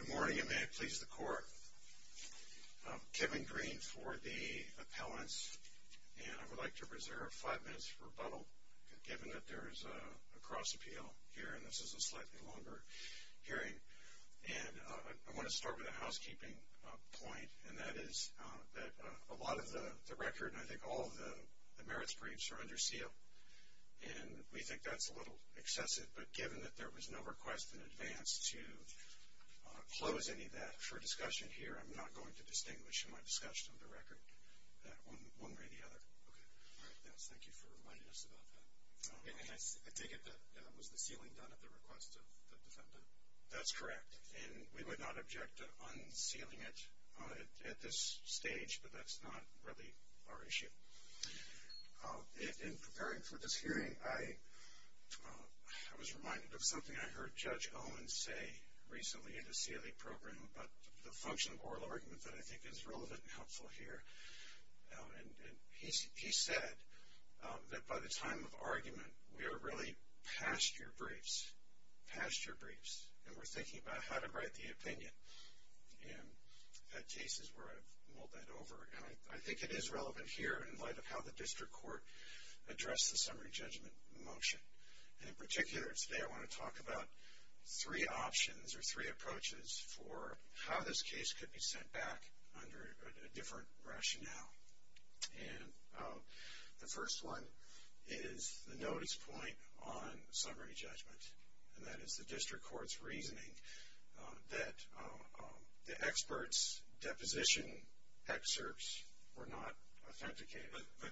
Good morning and may it please the court. Kevin Green for the appellants and I would like to reserve five minutes for rebuttal given that there is a cross-appeal here and this is a slightly longer hearing and I want to start with a housekeeping point and that is that a lot of the record and I think all of the merits briefs are under seal and we think that's a little excessive but given that there was no request in advance to close any of that for discussion here I'm not going to distinguish in my discussion of the record that one way or the other. Thank you for reminding us about that. I take it that was the sealing done at the request of the defendant? That's correct and we would not object to unsealing it at this stage but that's not really our issue. In preparing for this hearing, I was reminded of something I heard Judge Owens say recently in the CLE program about the function of oral argument that I think is relevant and helpful here and he said that by the time of argument we are really past your briefs, past your briefs and we're thinking about how to write the opinion and that case is where I've mulled that over and I think it is relevant here in light of how the district court addressed the summary judgment motion and in particular today I want to talk about three options or three approaches for how this case could be sent back under a different rationale and the first one is the notice point on summary judgment and that is the district court's reasoning that the expert's deposition excerpts were not authenticated. But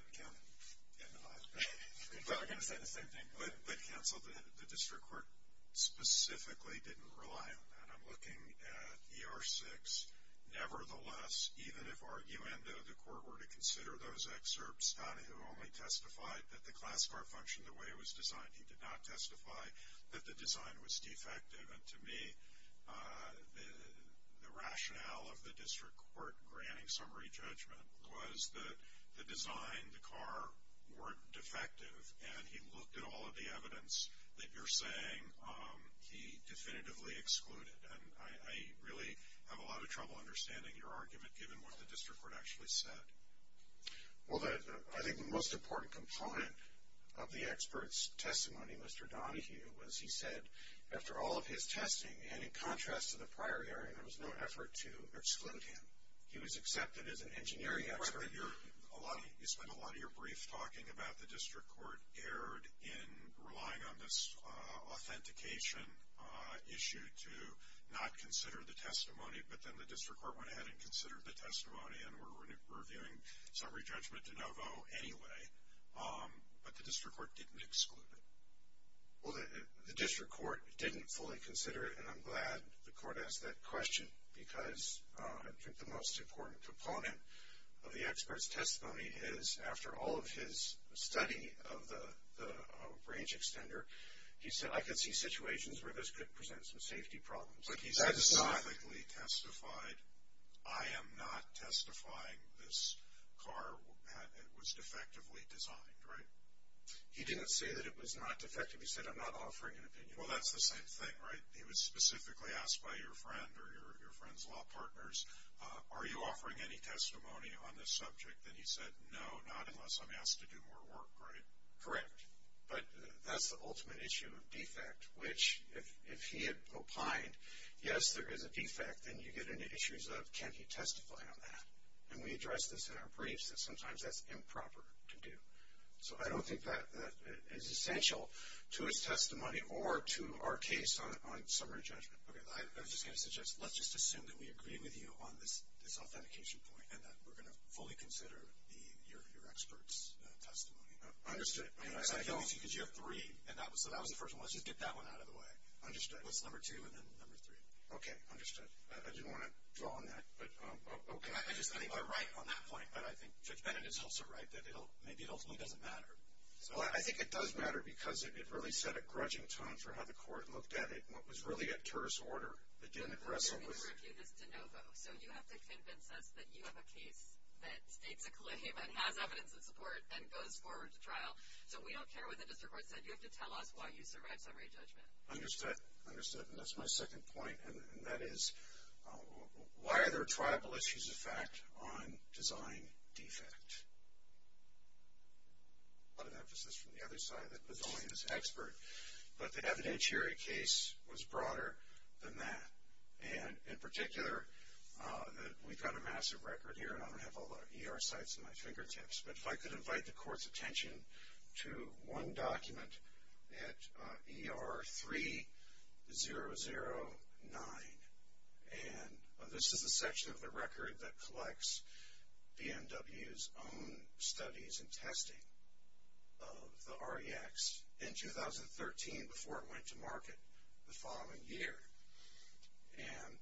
counsel, the district court specifically didn't rely on that. I'm looking at ER 6, nevertheless, even if arguendo the court were to consider those excerpts, Donahue only testified that the class bar functioned the way it was designed. He did not testify that the design was defective and to me the rationale of the district court granting summary judgment was that the design, the car weren't defective and he looked at all of the evidence that you're saying he definitively excluded and I really have a lot of trouble understanding your argument given what the district court actually said. Well, I think the most important component of the expert's testimony, Mr. Donahue, was he said after all of his testing and in contrast to the prior hearing there was no effort to exclude him. He was accepted as an engineering expert. You spent a lot of your brief talking about the district court erred in relying on this authentication issue to not consider the testimony but then the district court went ahead and considered the testimony and were reviewing summary judgment de novo anyway but the district court didn't exclude him. Well, the district court didn't fully consider it and I'm glad the court asked that question because I think the most important component of the expert's testimony is after all of his study of the range extender he said I could see situations where this could present some safety problems. He said specifically testified I am not testifying this car was defectively designed, right? He didn't say that it was not defective. He said I'm not offering an opinion. Well, that's the same thing, right? He was specifically asked by your friend or your friend's law partners, are you offering any testimony on this subject and he said no, not unless I'm asked to do more work, right? Correct, but that's the ultimate issue of defect which if he had opined yes, there is a defect and you get into issues of can he testify on that and we address this in our briefs that sometimes that's improper to do. So, I don't think that is essential to his testimony or to our case on summary judgment. Okay, I was just going to suggest let's just assume that we agree with you on this authentication point and that we're going to fully consider your expert's testimony. Understood. Because you have three and so that was the first one. Let's just get that one out of the way. Understood. What's number two and then number three? Okay, understood. I didn't want to draw on that, but okay. I just think you're right on that point, but I think Judge Bennett is also right that maybe it ultimately doesn't matter. Well, I think it does matter because it really set a grudging tone for how the court looked at it and what was really a terrorist order that didn't address it. We reviewed this de novo. So, you have to convince us that you have a case that states a claim and has evidence in support and goes forward to trial. So, we don't care what the district court said. You have to tell us why you survived summary judgment. Understood. Understood. And that's my second point and that is why are there tribal issues of fact on design defect? A lot of emphasis from the other side that was only his expert, but the evidentiary case was broader than that. And in particular, we've got a massive record here and I don't have all the ER sites at my fingertips, but if I could invite the court's attention to one document at ER 3009. And this is a section of the record that collects BMW's own studies and testing of the REX in 2013 before it went to market the following year. And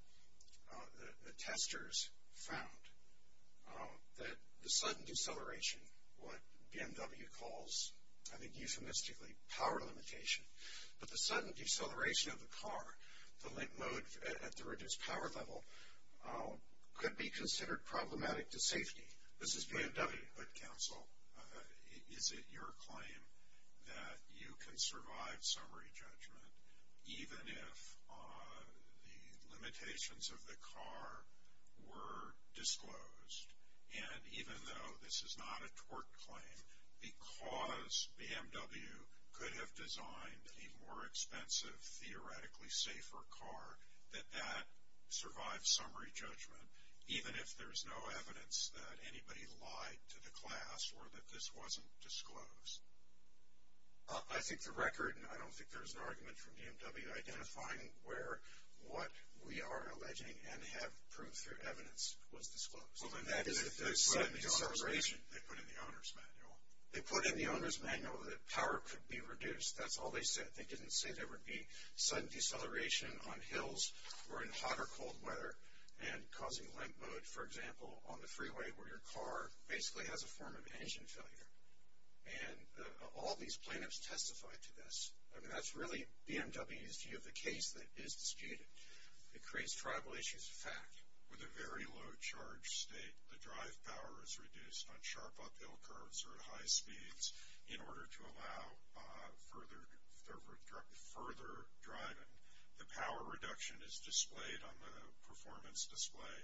the testers found that the sudden deceleration, what BMW calls, I think euphemistically power limitation, but the sudden deceleration of the car, the limp mode at the reduced power level, could be considered problematic to safety. This is BMW. But counsel, is it your claim that you can survive summary judgment even if the limitations of the car were disclosed? And even though this is not a tort claim, because BMW could have designed a more expensive, theoretically safer car, that that survived summary judgment even if there's no evidence that anybody lied to the class or that this wasn't disclosed? I think the record, and I don't think there's an argument from BMW identifying where what we are alleging and have proved through evidence was disclosed. And that is the sudden deceleration. They put in the owner's manual. They put in the owner's manual that power could be reduced. That's all they said. They didn't say there would be sudden deceleration on hills or in hot or cold weather and causing limp mode, for example, on the freeway where your car basically has a form of engine failure. And all these plaintiffs testified to this. I mean, that's really BMW's view of the case that is disputed. It creates tribal issues of fact. With a very low charge state, the drive power is reduced on sharp uphill curves or at high speeds in order to allow further driving. The power reduction is displayed on the performance display.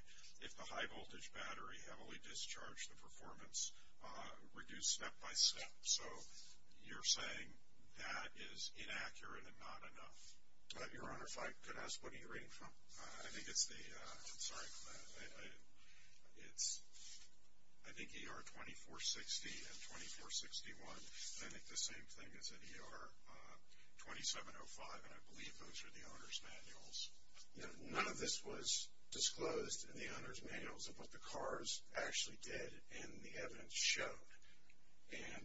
If the high voltage battery heavily discharged, the performance reduced step by step. So you're saying that is inaccurate and not enough. Your Honor, if I could ask what are you reading from? I think it's the, sorry, it's, I think ER 2460 and 2461. I think the same thing as in ER 2705 and I believe those are the owner's manuals. You know, none of this was disclosed in the owner's manuals of what the cars actually did and the evidence showed. And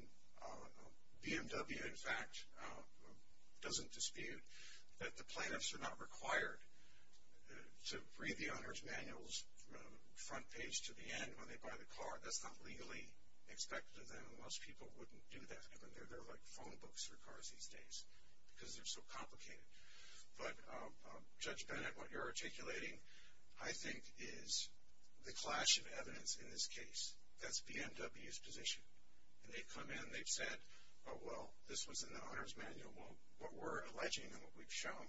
BMW, in fact, doesn't dispute that the plaintiffs are not required to read the owner's manuals front page to the end when they buy the car. That's not legally expected of them. Most people wouldn't do that. I mean, they're like phone books for cars these days because they're so complicated. But Judge Bennett, what you're articulating I think is the clash of evidence in this case. That's BMW's position. And they've come in, they've said, oh well, this was in the owner's manual. Well, what we're alleging and what we've shown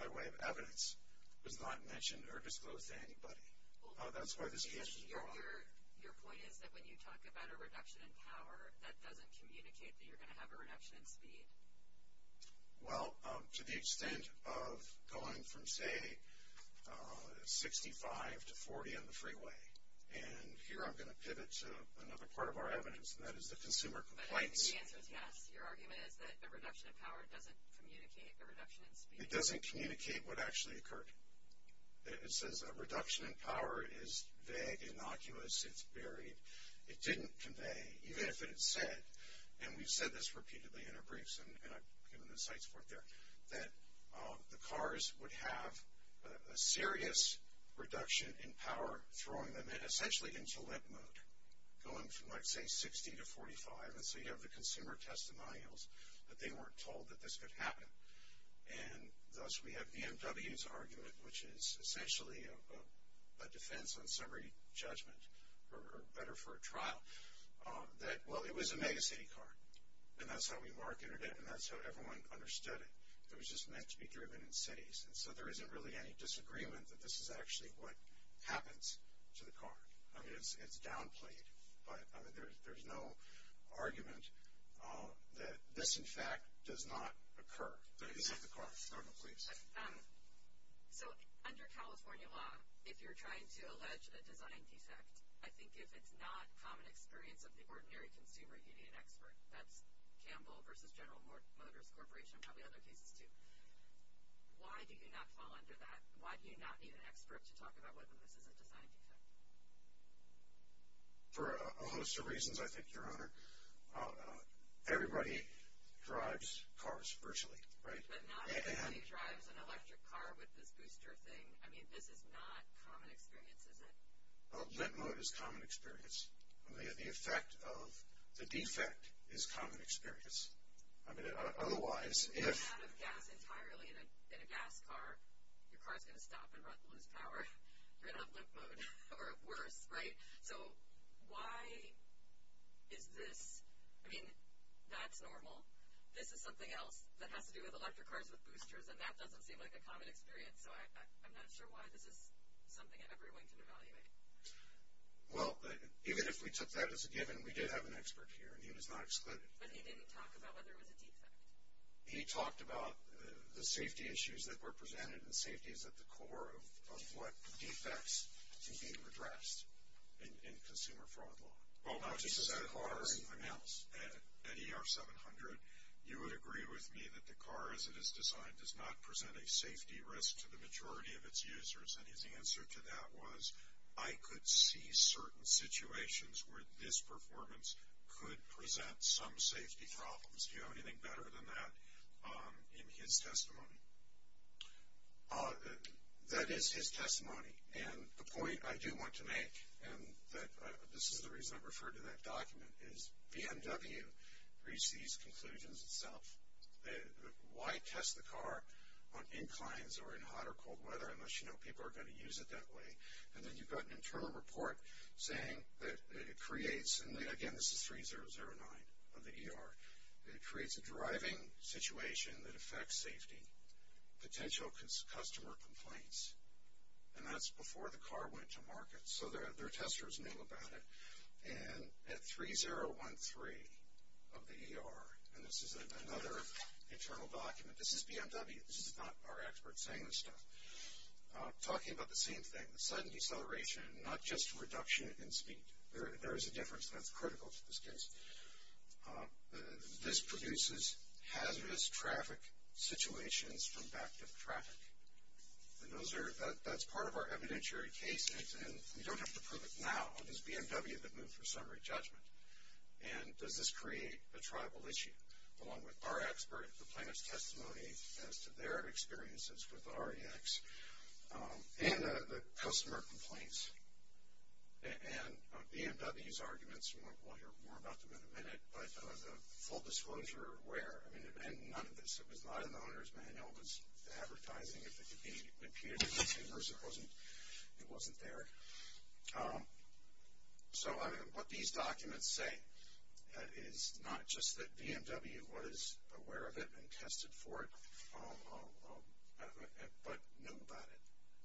by way of evidence was not mentioned or disclosed to anybody. That's why this case was brought up. Your point is that when you talk about a reduction in power, that doesn't communicate that you're going to have a reduction in speed. Well, to the extent of going from, say, 65 to 40 on the freeway. And here I'm going to pivot to another part of our evidence and that is the consumer complaints. The answer is yes. Your argument is that a reduction in power doesn't communicate a reduction in speed. It doesn't communicate what actually occurred. It says a reduction in power is vague, innocuous, it's buried. It didn't convey, even if it had said, and we've said this repeatedly in our briefs and I've given the site support there, that the cars would have a serious reduction in power throwing them in essentially into limp mode. Going from, let's say, 60 to 45. And so you have the consumer testimonials that they weren't told that this could happen. And thus we have BMW's argument, which is essentially a defense on summary judgment or better for a trial, that, well, it was a mega city car. And that's how we marketed it and that's how everyone understood it. It was just meant to be driven in cities. And so there isn't really any disagreement that this is actually what happens to the car. I mean, it's downplayed. But there's no argument that this, in fact, does not occur. This is the car. Go ahead, please. So under California law, if you're trying to allege a design defect, I think if it's not common experience of the ordinary consumer, you need an expert. That's Campbell versus General Motors Corporation and probably other cases, too. Why do you not fall under that? Why do you not need an expert to talk about whether this is a design defect? For a host of reasons, I think, Your Honor. Everybody drives cars virtually, right? But not everybody drives an electric car with this booster thing. I mean, this is not common experience, is it? Limp mode is common experience. The effect of the defect is common experience. I mean, otherwise, if. If you don't have enough gas entirely in a gas car, your car's going to stop and lose power. You're going to have limp mode or worse, right? So why is this? I mean, that's normal. This is something else that has to do with electric cars with boosters, and that doesn't seem like a common experience. So I'm not sure why this is something everyone can evaluate. Well, even if we took that as a given, we did have an expert here, and he was not excluded. But he didn't talk about whether it was a defect. He talked about the safety issues that were presented, and safety is at the core of what defects can be addressed in consumer fraud law. Well, not just the cars. At ER 700, you would agree with me that the car, as it is designed, does not present a safety risk to the majority of its users. And his answer to that was, I could see certain situations where this performance could present some safety problems. Do you have anything better than that in his testimony? That is his testimony. And the point I do want to make, and this is the reason I referred to that document, is BMW reached these conclusions itself. Why test the car on inclines or in hot or cold weather, unless you know people are going to use it that way? And then you've got an internal report saying that it creates, and again, this is 3009 of the ER. It creates a driving situation that affects safety. Potential customer complaints. And that's before the car went to market. So their testers knew about it. And at 3013 of the ER, and this is another internal document. This is BMW. This is not our expert saying this stuff. Talking about the same thing. The sudden deceleration, not just reduction in speed. There is a difference, and that's critical to this case. This produces hazardous traffic situations from back-dip traffic. And that's part of our evidentiary case. And we don't have to prove it now. It was BMW that moved for summary judgment. And does this create a tribal issue? Along with our expert, the plaintiff's testimony, as to their experiences with the REX. And the customer complaints. And BMW's arguments. We'll hear more about them in a minute. But as a full disclosure, we're aware. I mean, none of this. It was not in the owner's manual. It was advertising. If it appeared in the papers, it wasn't there. So what these documents say, is not just that BMW was aware of it and tested for it. But knew about it.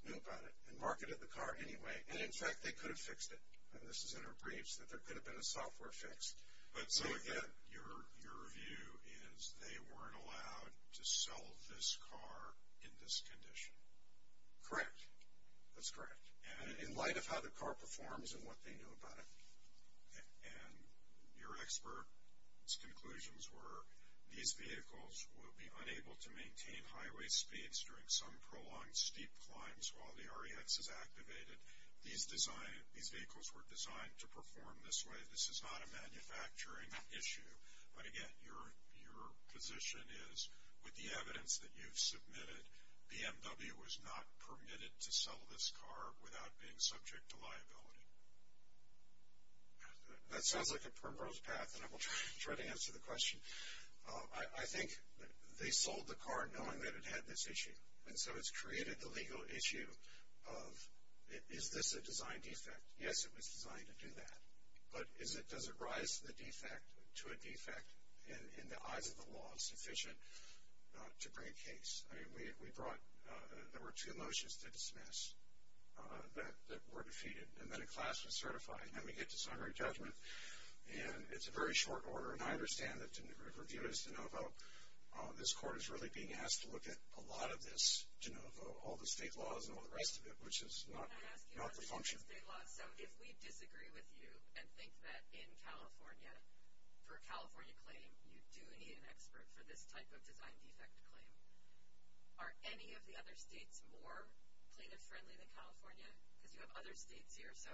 Knew about it. And marketed the car anyway. And in fact, they could have fixed it. And this is in our briefs. That there could have been a software fix. But so again, your view is, they weren't allowed to sell this car in this condition. Correct. That's correct. In light of how the car performs and what they knew about it. And your expert's conclusions were, these vehicles will be unable to maintain highway speeds during some prolonged steep climbs while the REX is activated. These vehicles were designed to perform this way. This is not a manufacturing issue. But again, your position is, with the evidence that you've submitted, BMW was not permitted to sell this car without being subject to liability. That sounds like a primrose path. And I will try to answer the question. I think they sold the car knowing that it had this issue. And so it's created the legal issue of, is this a design defect? Yes, it was designed to do that. But does it rise to a defect in the eyes of the law sufficient to bring a case? I mean, we brought, there were two motions to dismiss that were defeated. And then a class was certified. And then we get to summary judgment. And it's a very short order. And I understand that to review this de novo, this court is really being asked to look at a lot of this de novo, all the state laws and all the rest of it, which is not the function. So if we disagree with you and think that in California, for a California claim, you do need an expert for this type of design defect claim, are any of the other states more plaintiff-friendly than California? Because you have other states here. So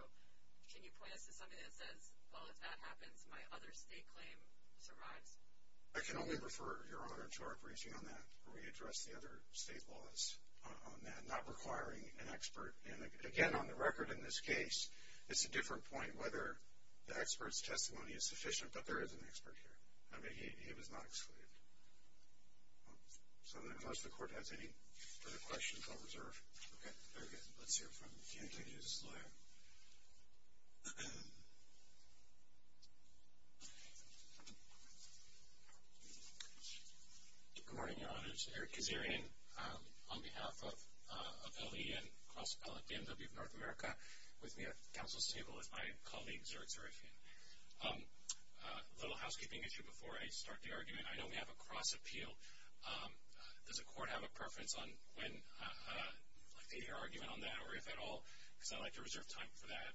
can you point us to something that says, well, if that happens, my other state claim survives? I can only refer Your Honor to our briefing on that, where we addressed the other state laws on that, not requiring an expert. And again, on the record in this case, it's a different point whether the expert's testimony is sufficient. But there is an expert here. I mean, he was not excluded. So unless the court has any further questions, I'll reserve. Okay, very good. Let's hear from the anti-Judas lawyer. Good morning, Your Honor. This is Eric Kazarian on behalf of LE and Cross Appellate BMW of North America with me at counsel's table with my colleague, Zurich, Zurich. A little housekeeping issue before I start the argument. I know we have a cross appeal. Does the court have a preference on when they hear argument on that, or if at all? Because I'd like to reserve time for that.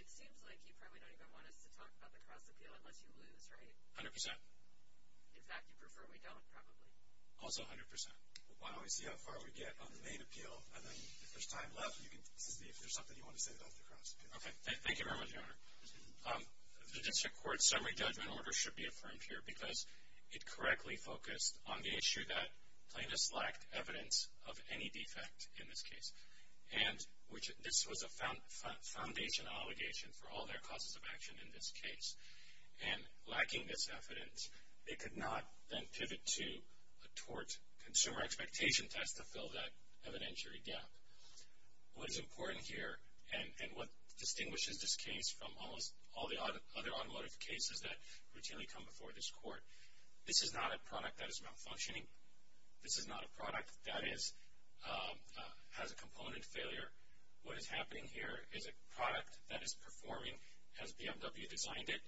It seems like you probably don't even want us to talk about the cross appeal unless you lose, right? 100%. In fact, you prefer we don't, probably. Also 100%. Why don't we see how far we get on the main appeal, and then if there's time left, you can see if there's something you want to say about the cross appeal. Okay, thank you very much, Your Honor. The district court's summary judgment order should be affirmed here because it correctly focused on the issue that plaintiffs lacked evidence of any defect in this case. And this was a foundation obligation for all their causes of action in this case. And lacking this evidence, they could not then pivot to a tort consumer expectation test to fill that evidentiary gap. What is important here, and what distinguishes this case from almost all the other automotive cases that routinely come before this court, this is not a product that is malfunctioning. This is not a product that has a component failure. What is happening here is a product that is performing. Has BMW designed it?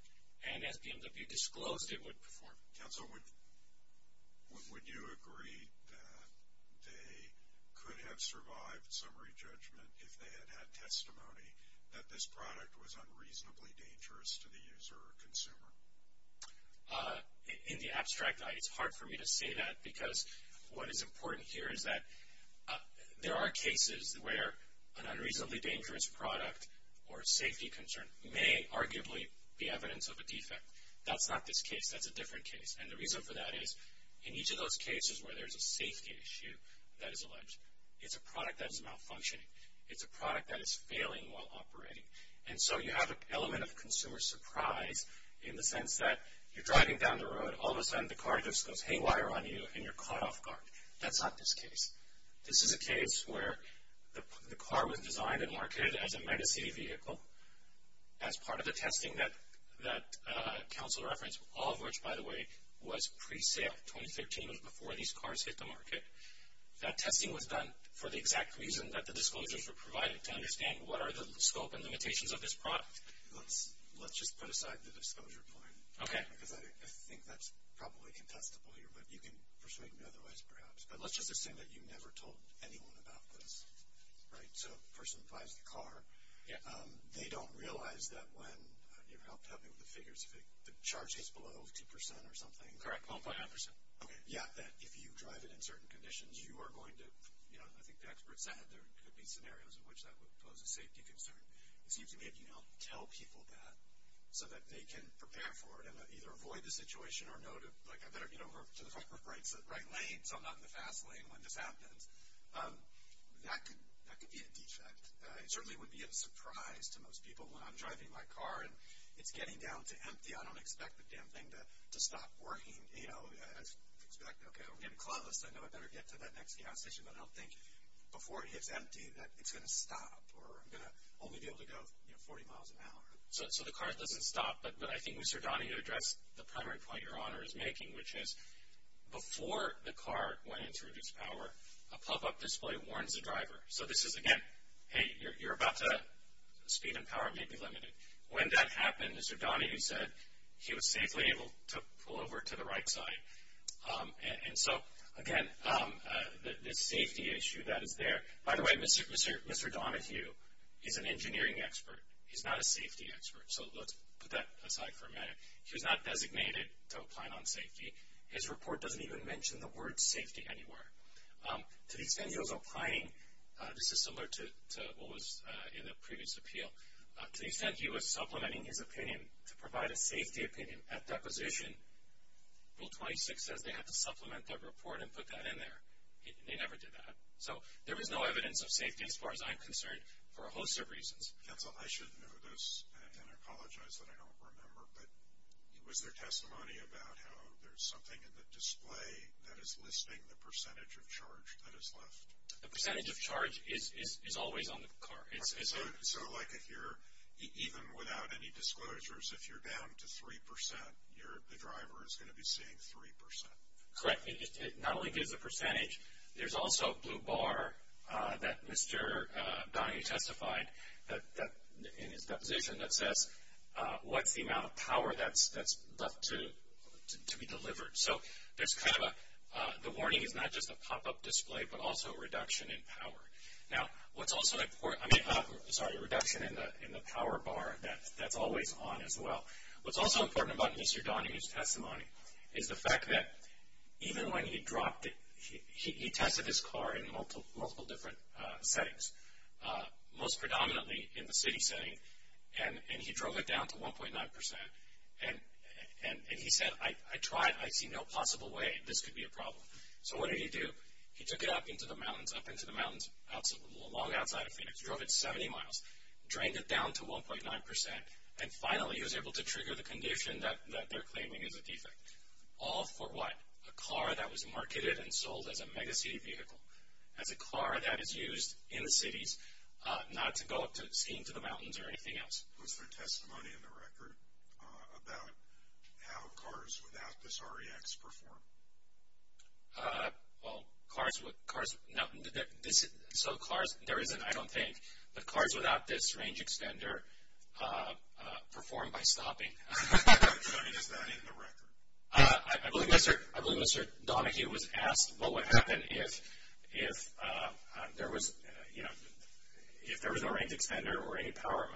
And has BMW disclosed it would perform? Counsel, would you agree that they could have survived summary judgment if they had had testimony that this product was unreasonably dangerous to the user or consumer? In the abstract, it's hard for me to say that because what is important here is that there are cases where an unreasonably dangerous product or safety concern may arguably be evidence of a defect. That's not this case. That's a different case. And the reason for that is in each of those cases where there's a safety issue that is alleged, it's a product that is malfunctioning. It's a product that is failing while operating. And so you have an element of consumer surprise in the sense that you're driving down the road, all of a sudden the car just goes haywire on you and you're caught off guard. That's not this case. This is a case where the car was designed and marketed as a mega city vehicle as part of the testing that Counsel referenced, all of which, by the way, was pre-sale. 2013 was before these cars hit the market. That testing was done for the exact reason that the disclosures were provided to understand what are the scope and limitations of this product. Let's just put aside the disclosure point. Because I think that's probably contestable here, but you can persuade me otherwise, perhaps. But let's just assume that you never told anyone about this. Right, so the person who drives the car, they don't realize that when... You helped help me with the figures. The charge is below 2% or something. Correct, 1.9%. Yeah, that if you drive it in certain conditions, you are going to... I think the expert said there could be scenarios in which that would pose a safety concern. It seems to me that you don't tell people that so that they can prepare for it and either avoid the situation or know to... Like, I better get over to the right lane so I'm not in the fast lane when this happens. That could be a defect. It certainly would be a surprise to most people when I'm driving my car and it's getting down to empty. I don't expect the damn thing to stop working. I expect, okay, we're getting close. I know I better get to that next gas station, but I don't think before it hits empty that it's going to stop or I'm going to only be able to go 40 miles an hour. So the car doesn't stop, but I think Mr. Donahue addressed the primary point Your Honor is making, which is before the car went into reduced power, a pop-up display warns the driver. So this is, again, hey, you're about to... Speed and power may be limited. When that happened, Mr. Donahue said he was safely able to pull over to the right side. And so, again, the safety issue that is there... By the way, Mr. Donahue is an engineering expert. He's not a safety expert, so let's put that aside for a minute. He was not designated to a plan on safety. His report doesn't even mention the word safety anywhere. To the extent he was applying... This is similar to what was in the previous appeal. To the extent he was supplementing his opinion to provide a safety opinion at deposition, Rule 26 says they had to supplement that report and put that in there. They never did that. So there was no evidence of safety, as far as I'm concerned, for a host of reasons. That's all. I should know this, and I apologize that I don't remember, but it was their testimony about how there's something in the display that is listing the percentage of charge that is left. The percentage of charge is always on the car. So, like, if you're... Even without any disclosures, if you're down to 3%, the driver is going to be seeing 3%. Correct. It not only gives a percentage, there's also a blue bar that Mr. Donahue testified in his deposition that says what's the amount of power that's left to be delivered. So there's kind of a... The warning is not just a pop-up display, but also a reduction in power. Now, what's also important... Sorry, a reduction in the power bar that's always on as well. What's also important about Mr. Donahue's testimony is the fact that even when he dropped it, he tested his car in multiple different settings, most predominantly in the city setting, and he drove it down to 1.9%, and he said, I tried, I see no possible way. This could be a problem. So what did he do? He took it up into the mountains, long outside of Phoenix, drove it 70 miles, drained it down to 1.9%, and finally he was able to trigger the condition that they're claiming is a defect. All for what? A car that was marketed and sold as a megacity vehicle, as a car that is used in cities not to go skiing to the mountains or anything else. Was there testimony in the record about how cars without this REX perform? Well, cars... So cars... There isn't, I don't think, but cars without this range extender perform by stopping. Is that in the record? I believe Mr. Donahue was asked what would happen if there was a range extender or any power...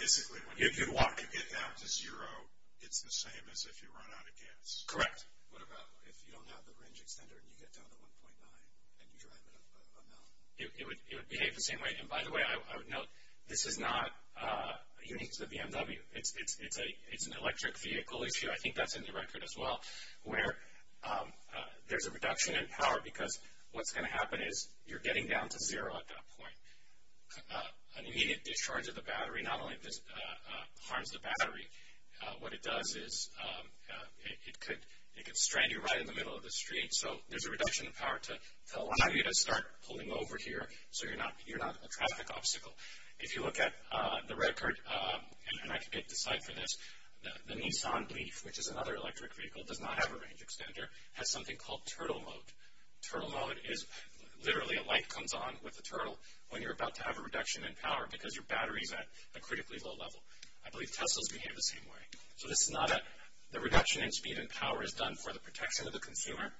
Basically, if you get down to zero, it's the same as if you run out of gas. What about if you don't have the range extender and you get down to 1.9% and you drive it up a mountain? It would behave the same way. By the way, I would note, this is not unique to the BMW. It's an electric vehicle issue. I think that's in the record as well. There's a reduction in power because what's going to happen is you're getting down to zero at that point. An immediate discharge of the battery not only harms the battery, what it does is it could strand you right in the middle of the street. So there's a reduction in power to allow you to start pulling over here so you're not a traffic obstacle. If you look at the record, and I can get to the slide for this, the Nissan Leaf, which is another electric vehicle, does not have a range extender, has something called turtle mode. Turtle mode is literally a light comes on with a turtle when you're about to have a reduction in power because your battery is at a critically low level. I believe Tesla's behave the same way. The reduction in speed and power is done for the protection of the consumer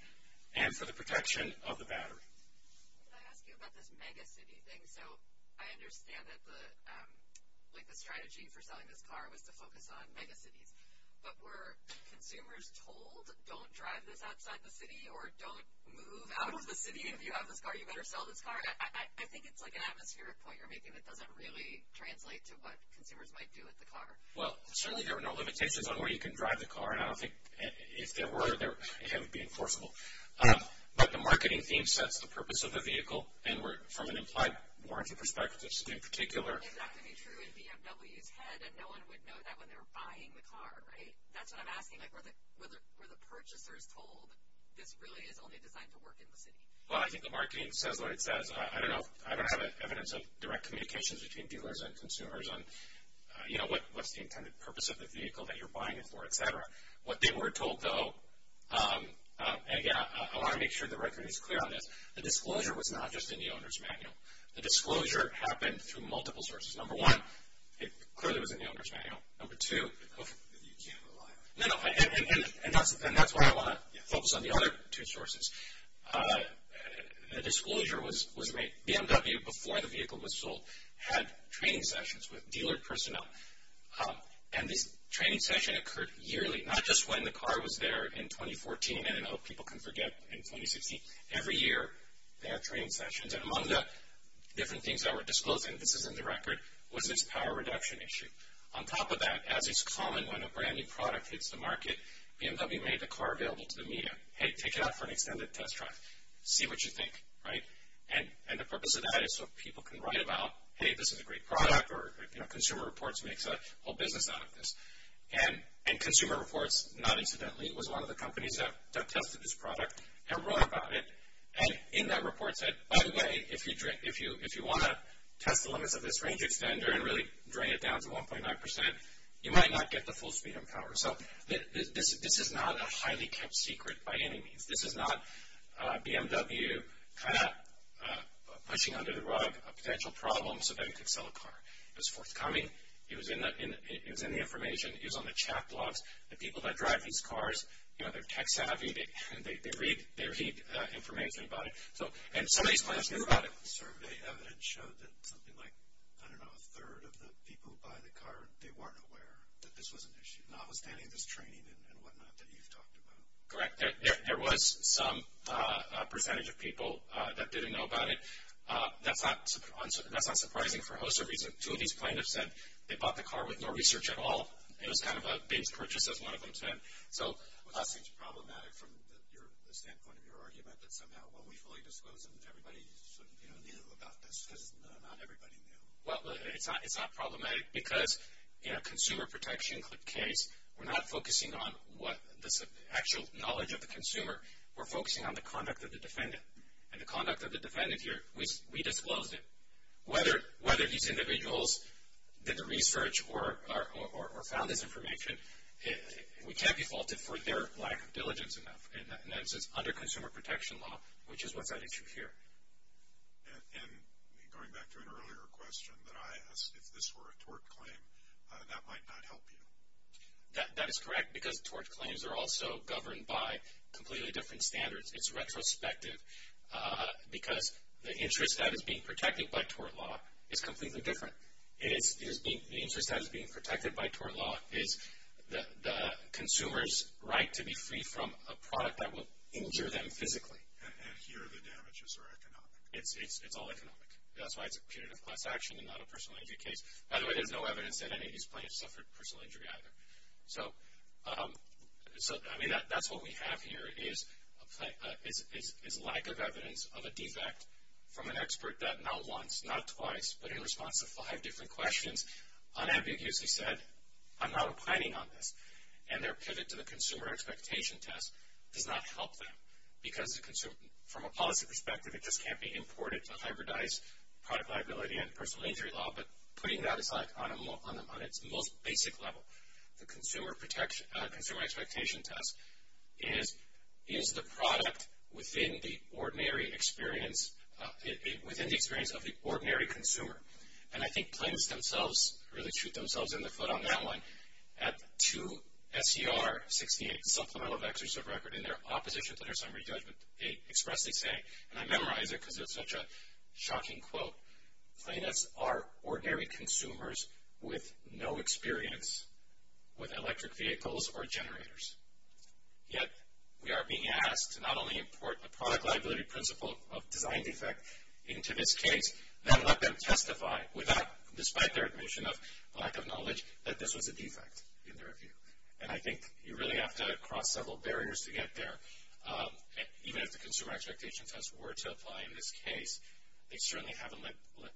and for the protection of the battery. Can I ask you about this mega city thing? I understand that the strategy for selling this car was to focus on mega cities, but were consumers told don't drive this outside the city or don't move out of the city if you have this car, you better sell this car? I think it's an atmospheric point you're making that doesn't really translate to what consumers might do with the car. Certainly there were no limitations on where you can drive the car. It would be enforceable. The marketing theme sets the purpose of the vehicle from an implied warranty perspective. Is that going to be true in BMW's head and no one would know that when they're buying the car? That's what I'm asking. Were the purchasers told this really is only designed to work in the city? I think the marketing says what it says. I don't have evidence of direct communications between dealers and consumers on what's the intended purpose of the vehicle that you're buying it for, etc. What they were told, though, and I want to make sure the record is clear on this, the disclosure was not just in the owner's manual. The disclosure happened through multiple sources. Number one, it clearly was in the owner's manual. Number two... And that's why I want to focus on the other two sources. The disclosure was made... BMW, before the vehicle was sold, had training sessions with dealer personnel. And this training session occurred yearly, not just when the car was there in 2014, and I hope people can forget in 2016. Every year, they had training sessions and among the different things that were disclosed and this is in the record, was this power reduction issue. On top of that, as is common when a brand new product hits the market, BMW made the car available to the media. Hey, take it out for an extended test drive. See what you think. And the purpose of that is so people can write about hey, this is a great product, or Consumer Reports makes a whole business out of this. And Consumer Reports, not incidentally, was one of the companies that tested this product and wrote about it and in that report said, by the way, if you want to test the limits of this range extender and really drain it down to 1.9%, you might not get the full speed and power. This is not a highly kept secret by any means. This is not BMW kind of pushing under the rug a potential problem so that it could sell a car. It was forthcoming. It was in the information. It was on the chat blogs. The people that drive these cars, they're tech savvy. They read information about it. And some of these plaintiffs knew about it. The survey evidence showed that something like, I don't know, a third of the people who buy the car, they weren't aware that this was an issue. Notwithstanding this training and whatnot that you've talked about. Correct. There was some percentage of people that didn't know about it. That's not surprising for a host of reasons. Two of these plaintiffs said they bought the car with no research at all. It was kind of a big purchase as one of them said. That seems problematic from the standpoint of your argument that somehow when we fully disclosed it, everybody knew about this. Because not everybody knew. It's not problematic because in a consumer protection case, we're not focusing on the actual knowledge of the consumer. We're focusing on the conduct of the defendant. And the conduct of the defendant here, we disclosed it. Whether these individuals did the research or found this information, we can't be faulted for their lack of diligence in that instance under consumer protection law, which is what's at issue here. And going back to an earlier question that I asked, if this were a tort claim, that might not help you. That is correct because tort claims are also governed by completely different standards. It's retrospective because the interest that is being protected by tort law is completely different. The interest that is being protected by tort law is the consumer's right to be free from a product that will injure them physically. And here the damages are economic. It's all economic. That's why it's a punitive class action and not a personal injury case. By the way, there's no evidence that any of these plaintiffs suffered personal injury either. That's what we have here is lack of evidence of a defect from an expert that not once, not twice, but in response to five different questions, unambiguously said I'm not opining on this. And their pivot to the consumer expectation test does not help them because from a policy perspective it just can't be imported to hybridize product liability and personal injury law, but putting that on its most basic level, the consumer expectation test is the product within the ordinary experience of the ordinary consumer. And I think plaintiffs themselves really shoot themselves in the foot on that one. At two SCR 68, Supplemental Exercise Record, in their opposition to their summary judgment, they expressly say, and I memorize it because it's such a shocking quote, plaintiffs are ordinary consumers with no experience with electric vehicles or generators. Yet, we are being asked to not only import the product liability principle of design defect into this case, but let them testify, despite their admission of lack of knowledge, that this was a defect in their view. And I think you really have to cross several barriers to get there. Even if the consumer expectation test were to apply in this case, they certainly haven't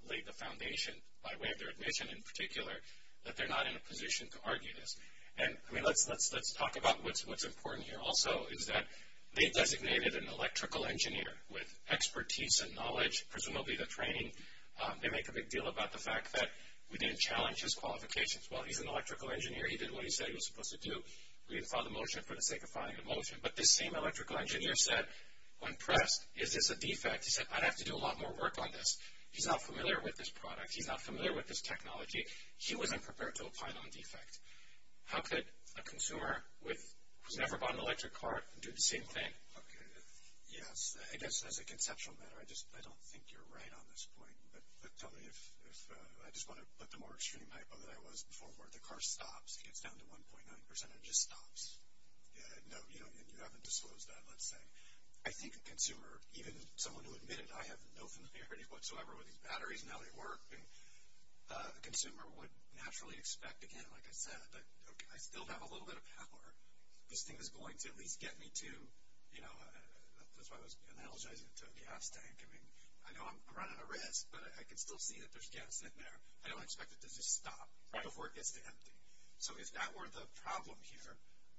laid the foundation by way of their admission in particular that they're not in a position to argue this. And let's talk about what's important here also is that they designated an electrical engineer with expertise and knowledge, presumably the training. They make a big deal about the fact that we didn't challenge his qualifications. Well, he's an electrical engineer. He did what he said he was supposed to do. We didn't file the motion for the sake of filing the motion. But this same electrical engineer said when pressed, is this a defect? He said, I'd have to do a lot more work on this. He's not familiar with this product. He's not familiar with this technology. He wasn't prepared to apply it on defect. How could a consumer who's never bought an electric car do the same thing? Yes, I guess as a conceptual matter, I don't think you're right on this point. But tell me if, I just want to put the more extreme hypo that I was before where the car stops and gets down to 1.9% and just stops. No, you haven't disclosed that, let's say. I think a consumer, even someone who admitted I have no familiarity whatsoever with these batteries and how they work, a consumer would naturally expect again, like I said, I still have a little bit of power. This thing is going to at least get me to, you know, that's why I was analogizing to a gas tank. I mean, I know I'm running a risk, but I can still see that there's gas in there. I don't expect it to just stop before it gets to empty. So if that were the problem here,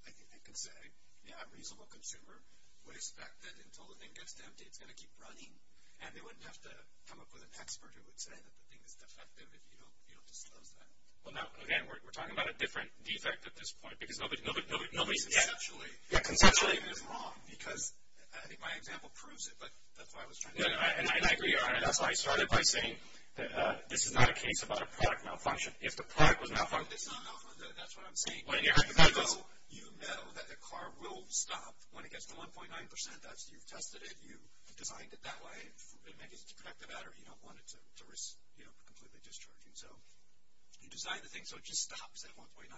I could say, yeah, a reasonable consumer would expect that until the thing gets to empty, it's going to keep running. And they wouldn't have to come up with an expert who would say that the thing is defective if you don't disclose that. Again, we're talking about a different defect at this point because nobody's yet... Yeah, conceptually... I think my example proves it, but that's why I was trying to... And I agree, that's why I started by saying this is not a case about a product malfunction. If the product was malfunctioned... That's what I'm saying. You know that the car will stop when it gets to 1.9%. That's, you've tested it, you designed it that way to protect the battery. You don't want it to risk completely discharging. So you design the thing so it just stops at 1.9%,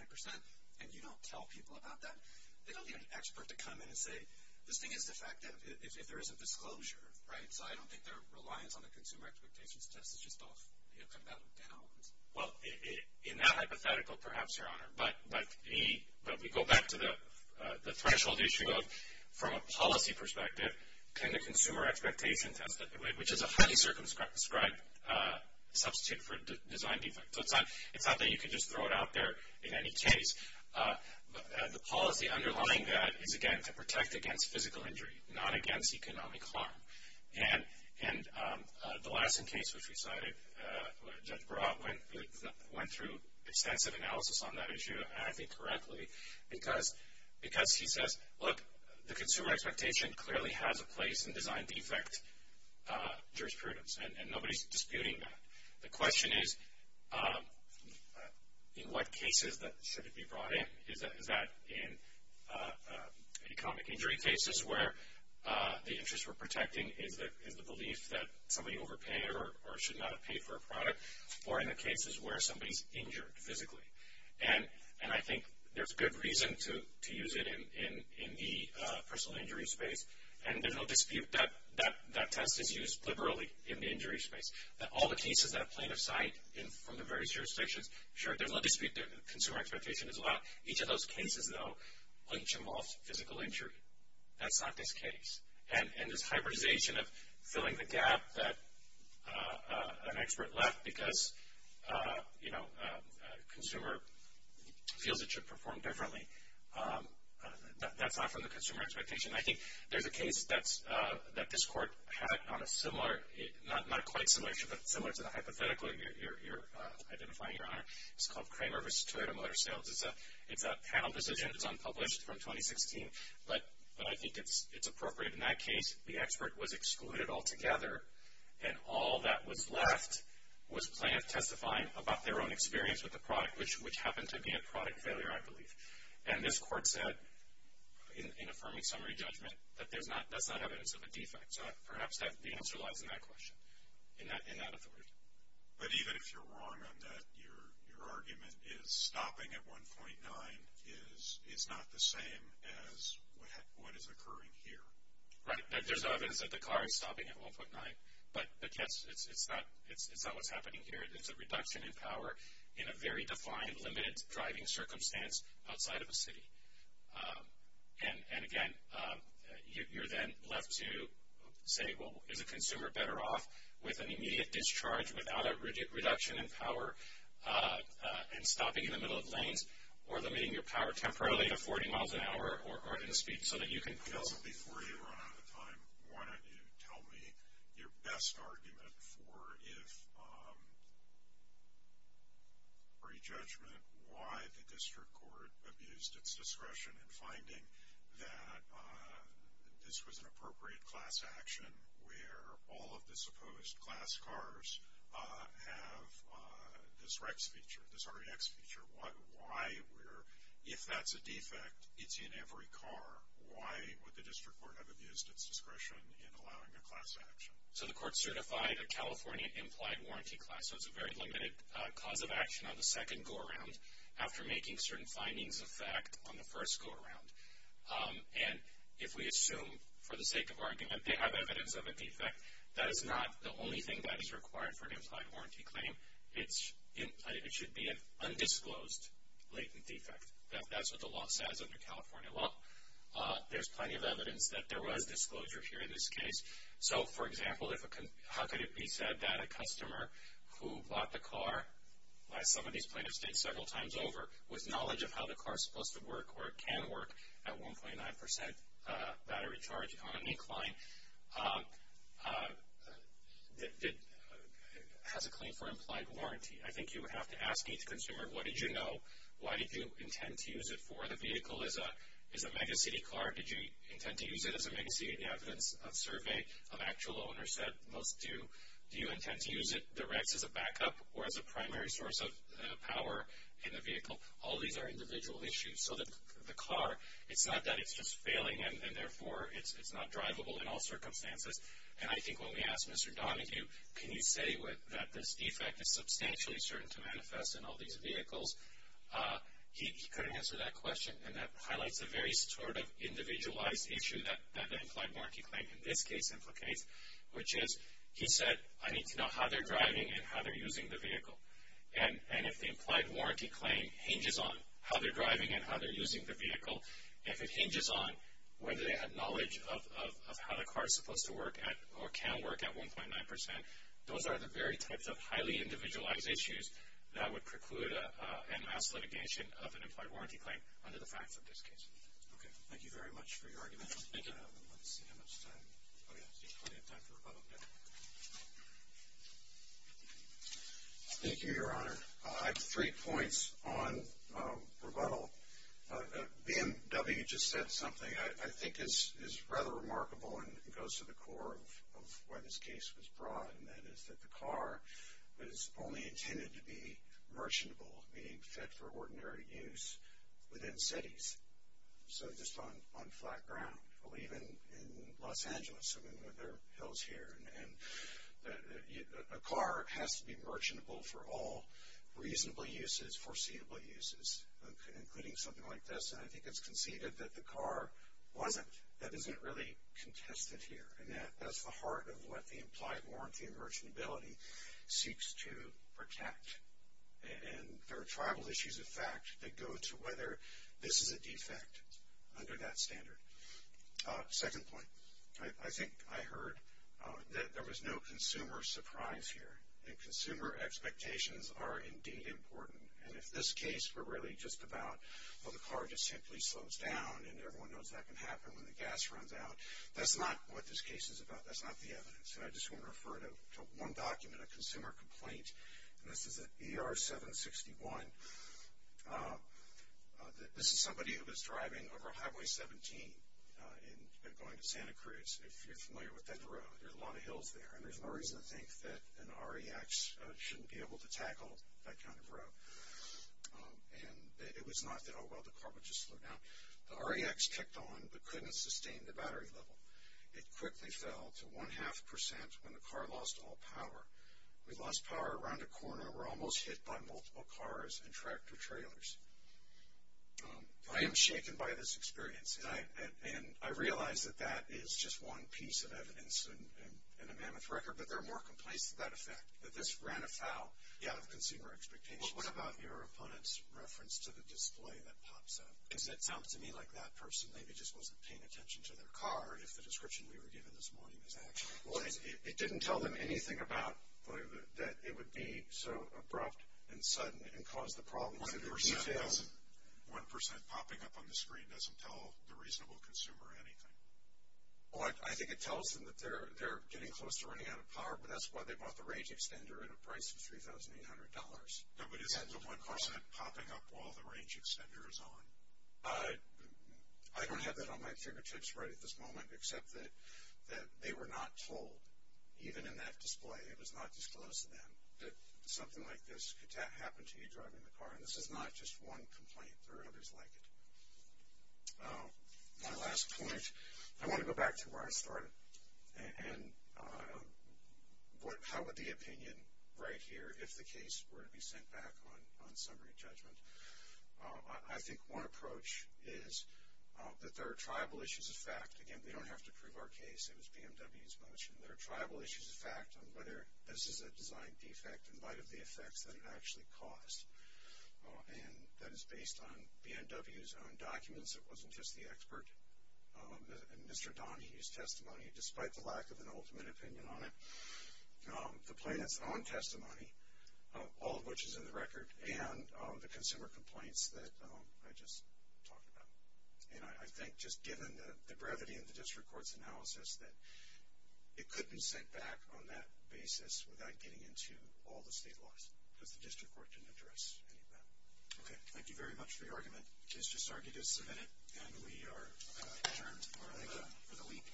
and you don't tell people about that. They don't need an expert to come in and say, this thing is defective if there isn't disclosure, right? So I don't think their reliance on the consumer expectations test is just off, you know, coming out of bounds. Well, in that hypothetical, perhaps, Your Honor, but we go back to the threshold issue of from a policy perspective, can the consumer expectation test, which is a highly circumscribed substitute for design defect. So it's not that you can just throw it out there in any case. The policy underlying that is, again, to protect against physical injury, not against economic harm. And the Lassen case, which we cited, Judge Barat went through extensive analysis on that issue, and I think correctly, because he says, look, the consumer expectation clearly has a place in design defect jurisprudence, and nobody's disputing that. The question is, in what cases should it be brought in? Is that in economic injury cases where the interest we're protecting is the belief that somebody overpaid or should not have paid for a product, or in the cases where somebody's injured physically? And I think there's good reason to use it in the personal injury space, and there's no dispute that that test is used liberally in the injury space. All the cases that plaintiff cite from the various jurisdictions, sure, there's no dispute that consumer expectation is allowed. Each of those cases, though, each involved physical injury. That's not this case. And this hybridization of filling the gap that an expert left because a consumer feels it should perform differently, that's not from the consumer expectation. I think there's a case that this Court had on a similar, not quite similar, but similar to the hypothetical you're identifying, Your Honor, it's called Kramer v. Toyota Motor Sales. It's a panel decision that's unpublished from 2016, but I think it's appropriate. In that case, the expert was excluded altogether, and all that was left was plaintiff testifying about their own experience with the product, which happened to be a product failure, I believe. And this Court said in affirming summary judgment that that's not evidence of a defect. So perhaps the answer lies in that question. In that authority. But even if you're wrong on that, your argument is stopping at 1.9 is not the same as what is occurring here. Right. There's evidence that the car is stopping at 1.9, but yes, it's not what's happening here. It's a reduction in power in a very defined, limited driving circumstance outside of a city. And again, you're then left to say, well, is a consumer better off with an immediate discharge without a reduction in power and stopping in the middle of lanes, or limiting your power temporarily to 40 miles an hour or in speed, so that you can... Before you run out of time, why don't you tell me your best argument for if pre-judgment, why would the district court have used its discretion in finding that this was an appropriate class action where all of the supposed class cars have this REX feature, this REX feature. Why if that's a defect, it's in every car, why would the district court have abused its discretion in allowing a class action? So the court certified a California implied warranty class, so it's a very limited cause of action on the second go-around after making certain findings of fact on the first go-around. And if we assume for the sake of argument, they have evidence of a defect, that is not the only thing that is required for an implied warranty claim. It should be an undisclosed latent defect. That's what the law says under California law. There's plenty of evidence that there was disclosure here in this case. So, for example, how could it be said that a car, as some of these plaintiffs did several times over, with knowledge of how the car is supposed to work or can work at 1.9% battery charge on incline, has a claim for implied warranty? I think you would have to ask each consumer, what did you know? Why did you intend to use it for? The vehicle is a megacity car. Did you intend to use it as a megacity? Evidence of survey of actual owners said most do. Do you intend to use it direct as a backup or as a primary source of power in the vehicle? All these are individual issues. So the car, it's not that it's just failing and therefore it's not drivable in all circumstances. And I think when we asked Mr. Donahue, can you say that this defect is substantially certain to manifest in all these vehicles? He couldn't answer that question. And that highlights a very sort of individualized issue that the implied warranty claim in this case implicates, which is, he said, I need to know how they're driving and how they're using the vehicle. And if the implied warranty claim hinges on how they're driving and how they're using the vehicle, if it hinges on whether they had knowledge of how the car is supposed to work at or can work at 1.9%, those are the very types of highly individualized issues that would preclude a mass litigation of an implied warranty claim under the facts of this case. Thank you very much for your argument. Thank you. Thank you, Your Honor. I have three points on rebuttal. BMW just said something I think is rather remarkable and goes to the core of why this case was brought, and that is that the car was only intended to be merchantable, meaning fit for ordinary use within cities. So just on flat ground, or even in Los Angeles, I mean there are hills here and a car has to be merchantable for all reasonable uses, foreseeable uses, including something like this, and I think it's conceded that the car wasn't, that isn't really contested here, and that that's the heart of what the implied warranty and merchantability seeks to protect. And there are tribal issues of fact that go to whether this is a defect under that standard. Second point, I think I heard that there was no consumer surprise here, and consumer expectations are indeed important, and if this case were really just about well the car just simply slows down and everyone knows that can happen when the gas runs out, that's not what this case is about, that's not the evidence, and I just want to refer to one document, a consumer complaint, and this is at ER 761, this is somebody who was driving over Highway 17 and going to Santa Cruz, if you're familiar with that road, there are a lot of hills there, and there's no reason to think that an REX shouldn't be able to tackle that kind of road. And it was not that oh well the car would just slow down. The REX kicked on but couldn't sustain the battery level. It quickly fell to one half percent when the car lost all power. We lost power around a corner, we're almost hit by multiple cars and tractor trailers. I am shaken by this experience, and I realize that that is just one piece of evidence in a mammoth record, but there are more complaints to that effect, that this ran afoul of consumer expectations. What about your opponent's reference to the display that pops up? Because it sounds to me like that person maybe just wasn't paying attention to their car, if the description we were given this morning is actually true. It didn't tell them anything about the display, that it would be so abrupt and sudden and cause the problems. One percent popping up on the screen doesn't tell the reasonable consumer anything. I think it tells them that they're getting close to running out of power, but that's why they bought the range extender at a price of $3,800. But isn't the one percent popping up while the range extender is on? I don't have that on my fingertips right at this moment, except that they were not told. Even in that display, it was not disclosed to them that something like this could happen to you driving the car. And this is not just one complaint. There are others like it. My last point, I want to go back to where I started. And how would the opinion right here, if the case were to be sent back on summary judgment, I think one approach is that there are tribal issues of fact. Again, we don't have to prove our case, it was BMW's motion. There are tribal issues of fact on whether this is a design defect in light of the effects that it actually caused. And that is based on BMW's own documents. It wasn't just the expert and Mr. Donahue's testimony, despite the lack of an ultimate opinion on it. The plaintiff's own testimony, all of which is in the record, and the consumer complaints that I just talked about. And I think just given the brevity of the district court's analysis, that it couldn't be sent back on that basis without getting into all the state laws. Because the district court didn't address any of that. Okay, thank you very much for your argument. It is just argued as submitted. And we are adjourned for the week.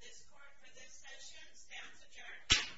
This court for this session stands adjourned.